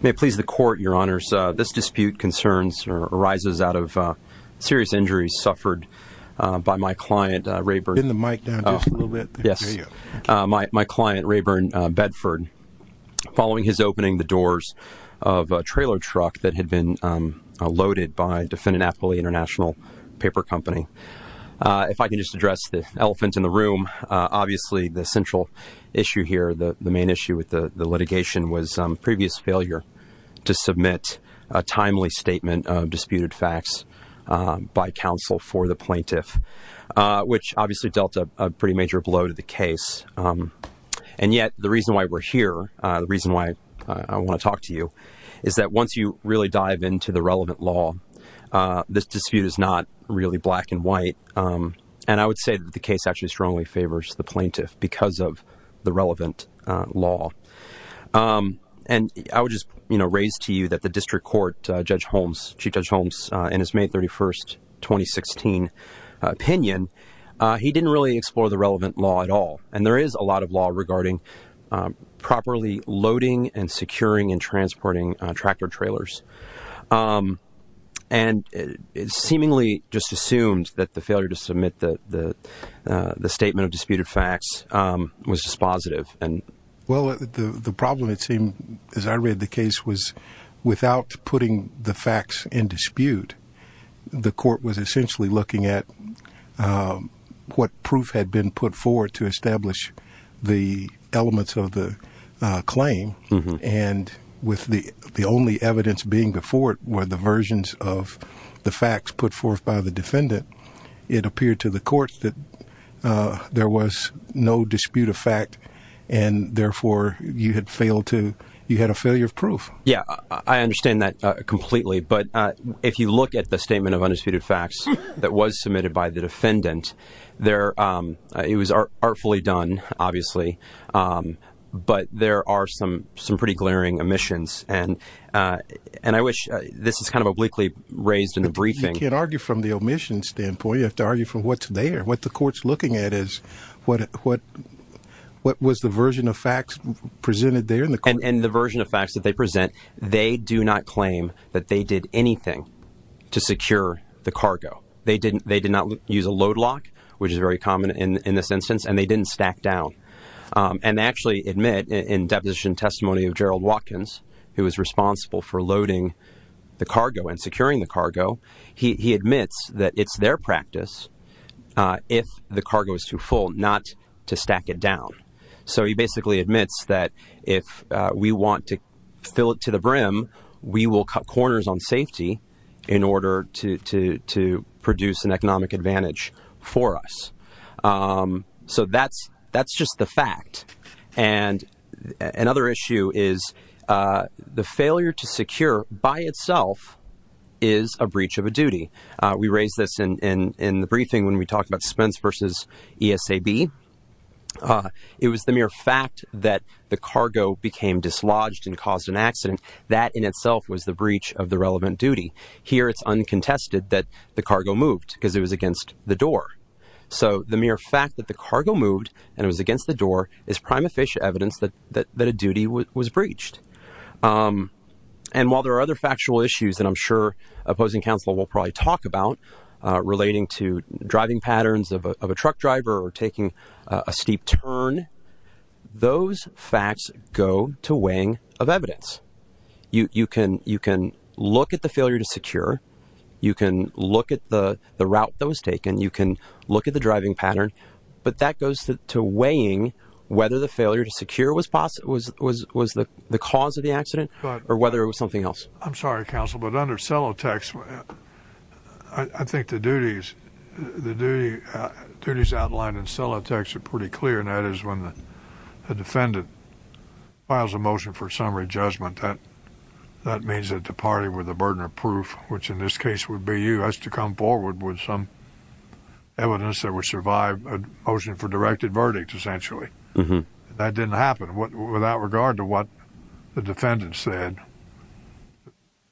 May it please the Court, Your Honors, this dispute arises out of serious injuries suffered by my client, Raeburn Bedford, following his opening the doors of a trailer truck that in the room, obviously the central issue here, the main issue with the litigation, was previous failure to submit a timely statement of disputed facts by counsel for the plaintiff which obviously dealt a major blow to the case and yet the reason why we're here, the reason why I want to talk to you, is that once you really dive into the relevant law, this dispute is not black and white, and I would say that the case actually strongly favors the plaintiff because of the relevant law. And I would just raise to you that the district court, Judge Holmes, Chief Judge Holmes, in his May 31st, 2016 opinion, he didn't really explore the relevant law at all, and there is a lot of law regarding properly loading and securing and transporting tractor-trailers. And it seemingly just assumed that the failure to submit the statement of disputed facts was dispositive. Well, the problem it seemed, as I read the case, was without putting the facts in dispute, the court was essentially looking at what proof had been put forward to establish the With the only evidence being before it were the versions of the facts put forth by the defendant, it appeared to the court that there was no dispute of fact and therefore you had failed to, you had a failure of proof. Yeah, I understand that completely, but if you look at the statement of undisputed facts that was submitted by the defendant, it was artfully done, obviously, but there are some pretty glaring omissions, and I wish, this is kind of obliquely raised in the briefing. You can't argue from the omission standpoint, you have to argue from what's there, what the court's looking at is what was the version of facts presented there in the court. And the version of facts that they present, they do not claim that they did anything to secure the cargo. They did not use a load lock, which is very common in this instance, and they didn't stack down. And they actually admit in deposition testimony of Gerald Watkins, who was responsible for loading the cargo and securing the cargo, he admits that it's their practice if the cargo is too full not to stack it down. So he basically admits that if we want to fill it to the brim, we will cut corners on So that's just the fact. And another issue is the failure to secure by itself is a breach of a duty. We raised this in the briefing when we talked about suspense versus ESAB. It was the mere fact that the cargo became dislodged and caused an accident, that in itself was the breach of the relevant duty. Here it's uncontested that the cargo moved because it was against the door. So the mere fact that the cargo moved and it was against the door is prima facie evidence that a duty was breached. And while there are other factual issues that I'm sure opposing counsel will probably talk about relating to driving patterns of a truck driver or taking a steep turn, those facts go to weighing of evidence. You can look at the failure to secure. You can look at the route that was taken. You can look at the driving pattern. But that goes to weighing whether the failure to secure was the cause of the accident or whether it was something else. I'm sorry, counsel, but under cellotex, I think the duties outlined in cellotex are pretty clear, and that is when the defendant files a motion for summary judgment, that means that the party with the burden of proof, which in this case would be you, has to come forward with some evidence that would survive a motion for directed verdict, essentially. That didn't happen. Without regard to what the defendant said,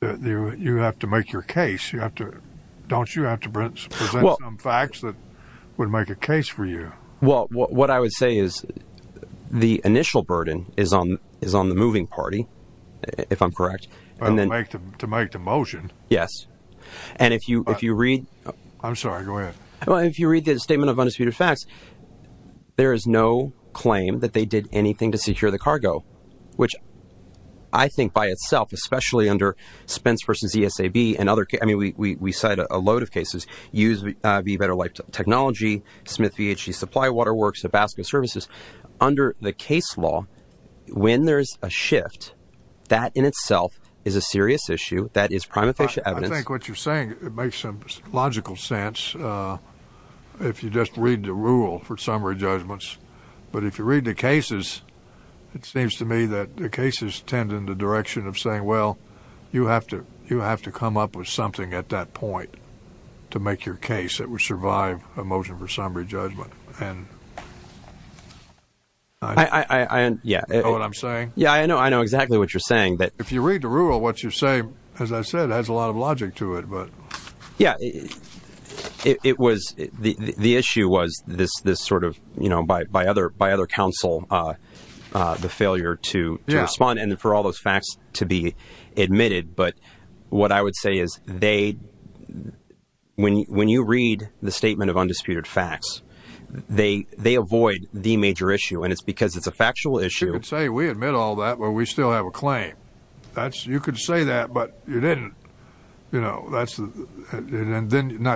you have to make your case. Don't you have to present some facts that would make a case for you? Well, what I would say is the initial burden is on the moving party, if I'm correct. To make the motion? Yes. And if you read the statement of undisputed facts, there is no claim that they did anything to secure the cargo, which I think by itself, especially under Spence v. ESAB, and we cite a load of cases, U.S.B. Better Life Technology, Smith v. H.E. Supply Water Works, Tabasco Services. Under the case law, when there's a shift, that in itself is a serious issue. That is prima facie evidence. I think what you're saying makes some logical sense if you just read the rule for summary judgments. But if you read the cases, it seems to me that the cases tend in the direction of saying, well, you have to come up with something at that point to make your case that would survive a motion for summary judgment. I know exactly what you're saying. If you read the rule, what you're saying, as I said, has a lot of logic to it. The issue was this sort of, by other counsel, the failure to respond and for all those facts to be admitted. But what I would say is when you read the statement of undisputed facts, they avoid the major issue. And it's because it's a factual issue. You could say we admit all that, but we still have a claim. You could say that, but you didn't. Not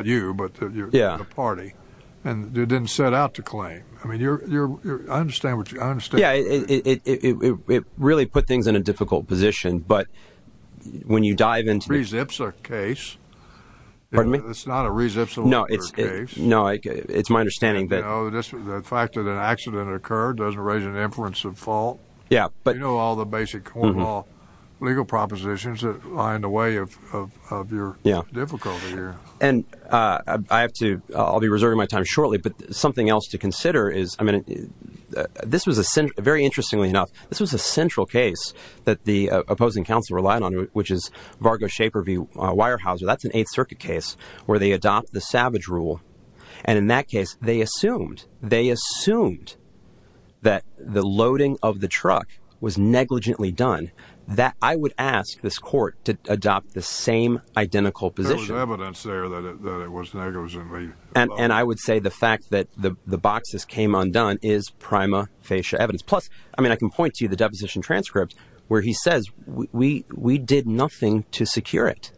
you, but the party. And you didn't set out to claim. I mean, I understand what you're saying. Yeah, it really put things in a difficult position. But when you dive into it, it's not a reciprocal case. It's my understanding that the fact that an accident occurred doesn't raise an inference of fault. Yeah, but you know, all the basic legal propositions that are in the way of your difficulty here. And I have to, I'll be reserving my time shortly, but something else to consider is, I mean, this was a, very interestingly enough, this was a central case that the opposing counsel relied on, which is Vargo Shaper v. Weyerhaeuser. That's an Eighth Circuit case where they adopt the Savage Rule. And in that case, they assumed, they assumed that the loading of the truck was negligently done. I would ask this court to adopt the same identical position. There was evidence there that it was negligently loaded. And I would say the fact that the boxes came undone is prima facie evidence. Plus, I mean, I can point to you the deposition transcript where he says, we did nothing to secure it.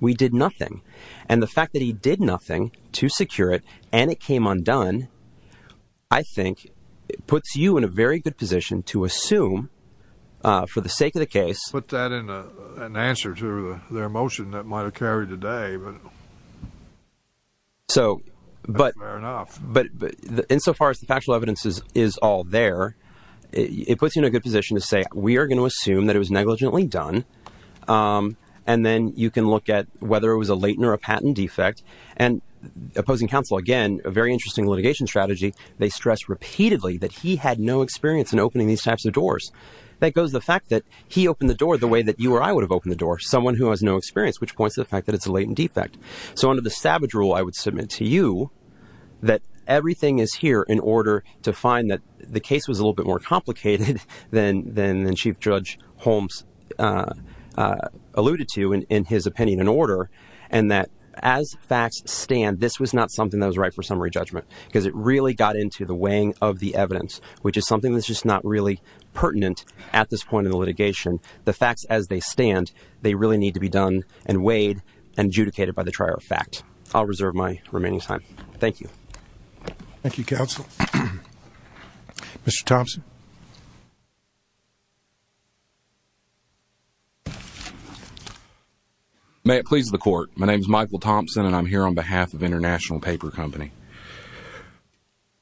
We did nothing. And the fact that he did nothing to secure it and it came undone, I think puts you in a very good position to assume, for the sake of the case... Put that in an answer to their motion that might have carried the day. Fair enough. So, but insofar as the factual evidence is all there, it puts you in a good position to say, we are going to assume that it was negligently done. And then you can look at whether it was a latent or a patent defect. And opposing counsel, again, a very interesting litigation strategy, they stress repeatedly that he had no experience in opening these types of doors. That goes the fact that he opened the door the way that you or I would have opened the door, someone who has no experience, which points to the fact that it's a latent defect. So under the savage rule, I would submit to you that everything is here in order to find that the case was a little bit more complicated than Chief Judge Holmes alluded to in his opinion and order. And that as facts stand, this was not something that was right for summary judgment because it really got into the weighing of the evidence, which is something that's just not really pertinent at this point in the litigation. The facts as they stand, they really need to be done and weighed and adjudicated by the trier of fact. I'll reserve my remaining time. Thank you. Thank you, counsel. Mr. Thompson. May it please the court. My name is Michael Thompson and I'm here on behalf of International Paper Company.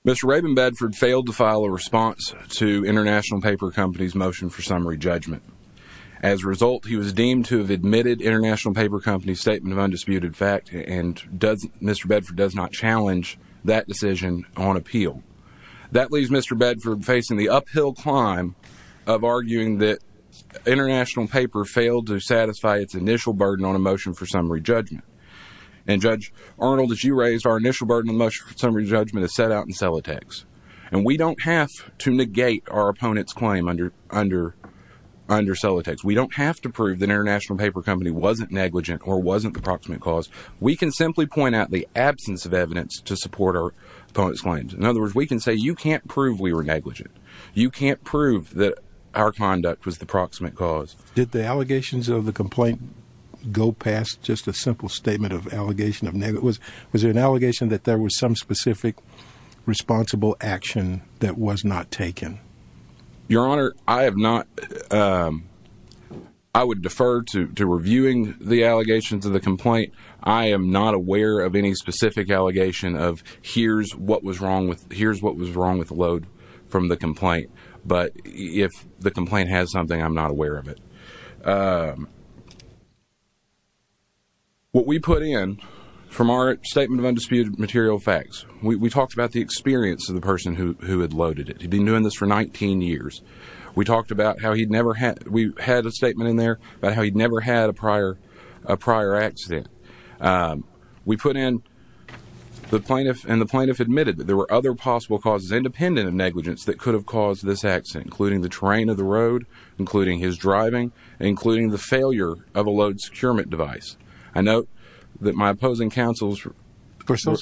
Mr. Rabin Bedford failed to file a response to International Paper Company's motion for summary judgment. As a result, he was deemed to have admitted International Paper Company's statement of undisputed fact and Mr. Bedford does not challenge that decision on appeal. That leaves Mr. Bedford facing the uphill climb of arguing that International Paper failed to satisfy its initial burden on a motion for summary judgment. And Judge Arnold, as you raised, our initial burden on motion for summary judgment is set out in Celotex and we don't have to negate our opponent's claim under Celotex. We don't have to prove that International Paper Company wasn't negligent or wasn't the proximate cause. We can simply point out the absence of evidence to support our opponent's claims. In other words, we can say you can't prove we were negligent. You can't prove that our conduct was the proximate cause. Did the allegations of the complaint go past just a simple statement of allegation of negligence? Was there an allegation that there was some specific responsible action that was not taken? Your Honor, I have not, um, I would defer to reviewing the allegations of the complaint. I am not aware of any specific allegation of here's what was wrong with, here's what was wrong with the load from the complaint. But if the complaint has something, I'm not aware of it. Um, what we put in from our statement of undisputed material facts, we talked about the experience of the person who had loaded it. He'd been doing this for 19 years. We talked about how he'd never had, we had a statement in there about how he'd never had a prior, a prior accident. Um, we put in the plaintiff and the plaintiff admitted that there were other possible causes independent of negligence that could have caused this accident, including the terrain of the road, including his driving, including the failure of a load securement device. I note that my opposing counsels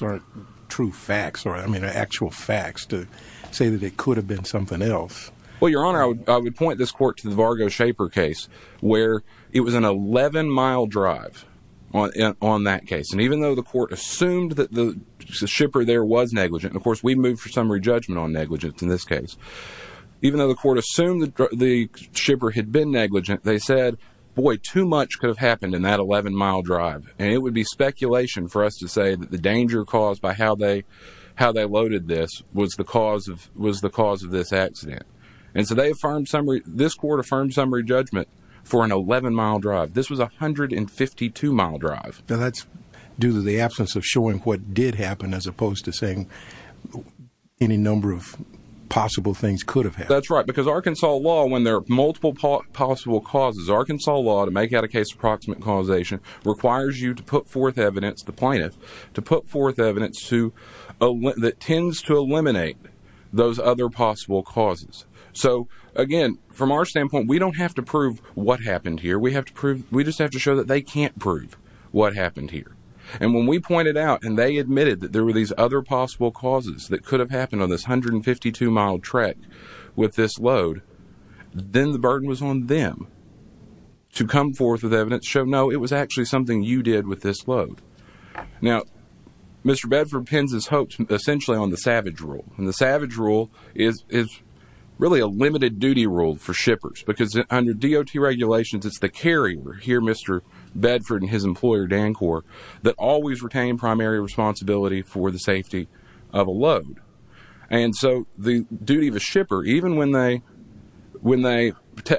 are true facts or I mean actual facts to say that it could have been something else. Well, your Honor, I would, I would point this court to the Vargo shaper case where it was an 11 mile drive on, on that case. And even though the court assumed that the shipper there was negligent, and of course we moved for summary judgment on negligence in this case, even though the court assumed that the shipper had been negligent, they said, boy, too much could have happened in that 11 mile drive. And it would be speculation for us to say that the danger caused by how they, how they loaded this was the cause of, was the cause of this accident. And so they affirmed summary, this court affirmed summary judgment for an 11 mile drive. This was 152 mile drive. Now that's due to the absence of showing what did happen as opposed to saying any number of possible things could have happened. That's right. Because Arkansas law, when there are multiple possible causes, Arkansas law to make out a case of proximate causation requires you to put forth evidence, the plaintiff, to put forth evidence to, that tends to eliminate those other possible causes. So again, from our standpoint, we don't have to prove what happened here. We have to prove, we just have to show that they can't prove what happened here. And when we pointed out and they admitted that there were these other possible causes that could have happened on this 152 mile trek with this load, then the burden was on them to come forth with evidence, show, no, it was actually something you did with this load. Now, Mr. Bedford pins his hopes essentially on the savage rule. And the savage rule is, is really a limited duty rule for shippers because under DOT regulations, it's the carrier here, Mr. Bedford and his employer, Dancor, that always retain primary responsibility for the safety of a load. And so the duty of a shipper, even when they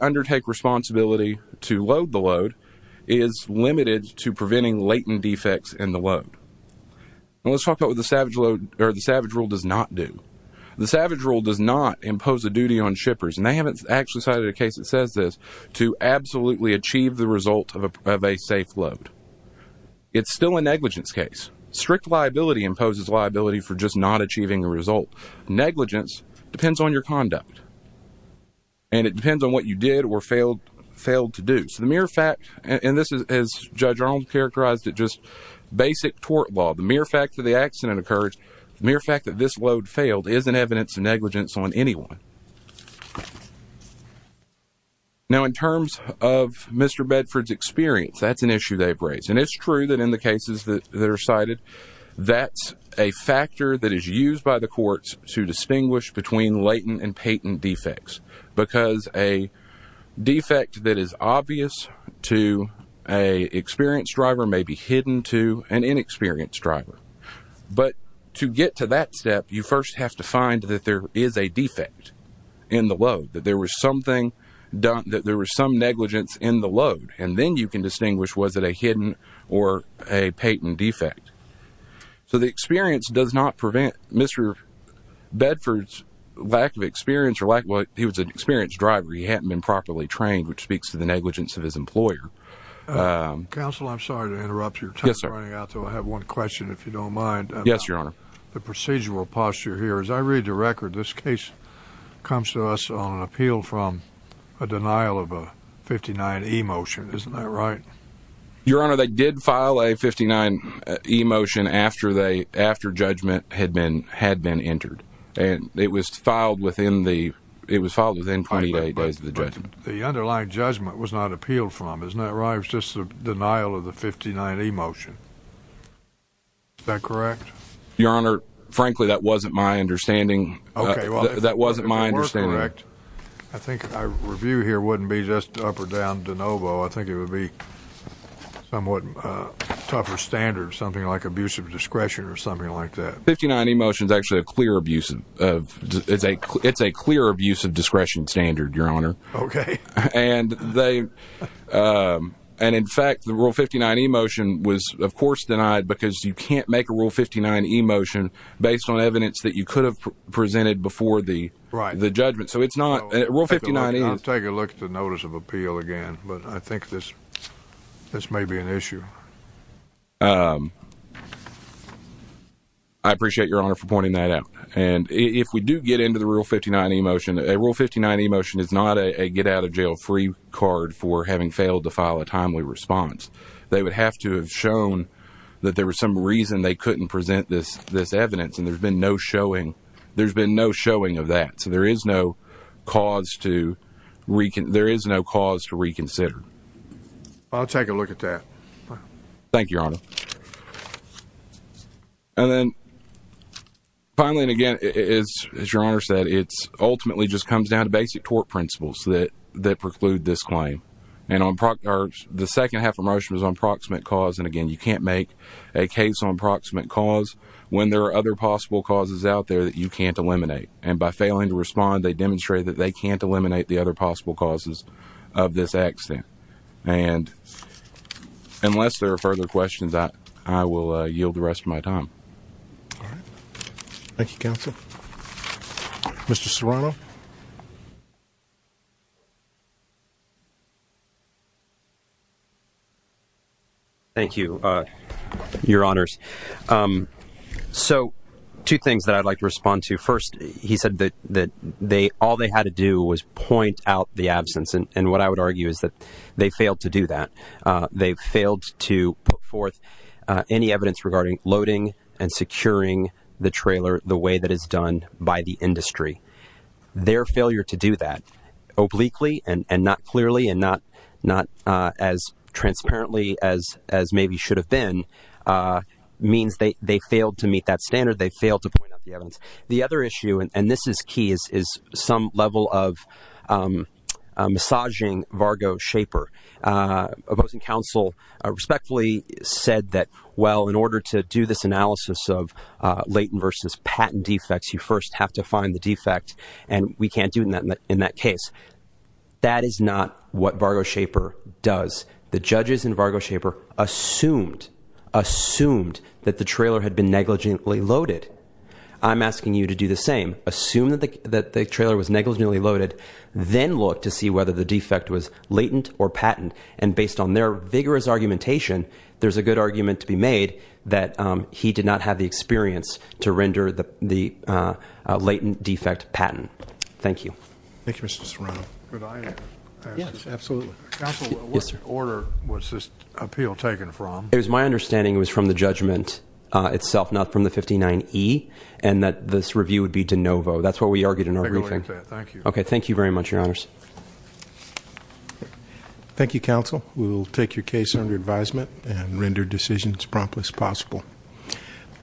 undertake responsibility to load the load, is limited to preventing latent defects in the load. And let's talk about what the savage rule does not do. The savage rule does not impose a duty on shippers, and they haven't actually cited a case that it's still a negligence case. Strict liability imposes liability for just not achieving a result. Negligence depends on your conduct. And it depends on what you did or failed to do. So the mere fact, and this is, as Judge Arnold characterized it, just basic tort law, the mere fact that the accident occurred, the mere fact that this load failed is an evidence of negligence on anyone. Now, in terms of Mr. Bedford's experience, that's an issue they've raised. And it's true that in the cases that are cited, that's a factor that is used by the courts to distinguish between latent and patent defects. Because a defect that is obvious to an experienced driver may be hidden to an inexperienced driver. But to get to that step, you first have to find that there is a defect in the load, that there was something done, that there was some negligence in the load. And then you can distinguish was it a hidden or a patent defect. So the experience does not prevent Mr. Bedford's lack of experience, or lack, well, he was an experienced driver. He hadn't been properly trained, which speaks to the negligence of his employer. Counsel, I'm sorry to interrupt your time running out, though I have one question, if you don't mind. Yes, Your Honor. The procedural posture here, as I read the record, this case comes to us on an appeal from a denial of a 59E motion, isn't that right? Your Honor, they did file a 59E motion after judgment had been entered. And it was filed within the, it was filed within 28 days of the judgment. The underlying judgment was not appealed from, isn't that right? It was just a denial of the 59E motion. Is that correct? Your Honor, frankly, that wasn't my understanding. Okay, well, if it were correct, I think our review here wouldn't be just up or down de novo. I think it would be somewhat tougher standards, something like abuse of discretion or something like that. 59E motion is actually a clear abuse of, it's a clear abuse of discretion standard, Your Honor. Okay. And they, and in fact, the Rule 59E motion was, of course, denied because you can't make a Rule 59E motion based on evidence that you could have presented before the judgment. So it's not, Rule 59E is... I'll take a look at the notice of appeal again, but I think this may be an issue. I appreciate, Your Honor, for pointing that out. And if we do get into the Rule 59E motion, a Rule 59E motion is not a get out of jail free card for having failed to file a timely response. They would have to have shown that there was some reason they couldn't present this evidence, and there's been no showing, there's been no showing of that. So there is no cause to, there is no cause to reconsider. I'll take a look at that. Thank you, Your Honor. And then finally, and again, as Your Honor said, it's ultimately just comes down to basic tort principles that preclude this claim. And the second half of the motion was on proximate cause, and again, you can't make a case on proximate cause when there are other possible causes out there that you can't eliminate. And by failing to respond, they demonstrated that they can't eliminate the other possible causes of this accident. And unless there are further questions, I will yield the rest of my time. All right. Thank you, Counsel. Mr. Serrano? Thank you, Your Honors. So two things that I'd like to respond to. First, he said that all they had to do was point out the absence. And what I would argue is that they failed to do that. They failed to put forth any evidence regarding loading and securing the trailer the way that is done by the industry. Their failure to do that obliquely and not clearly and not as transparently as maybe should have been means they failed to meet that standard. They failed to point out the evidence. The other issue, and this is key, is some level of massaging Vargo Shaper. Opposing Counsel respectfully said that, well, in order to do this analysis of latent versus patent defects, you first have to find the defect. And we can't do that in that case. That is not what Vargo Shaper does. The judges in Vargo Shaper assumed, assumed that the trailer had been negligently loaded. I'm asking you to do the same. Assume that the trailer was negligently loaded. Then look to see whether the defect was latent or patent. And based on their vigorous argumentation, there's a good argument to be made that he did not have the experience to render the latent defect patent. Thank you. Thank you, Mr. Serrano. Could I ask a question? Yes, absolutely. Counsel, what order was this appeal taken from? It was my understanding it was from the judgment itself, not from the 59E, and that this review would be de novo. That's what we argued in our briefing. I'll take a look at that. Thank you. Okay. Thank you very much, Your Honors. Thank you, Counsel. We will take your case under advisement and render decisions promptly as possible.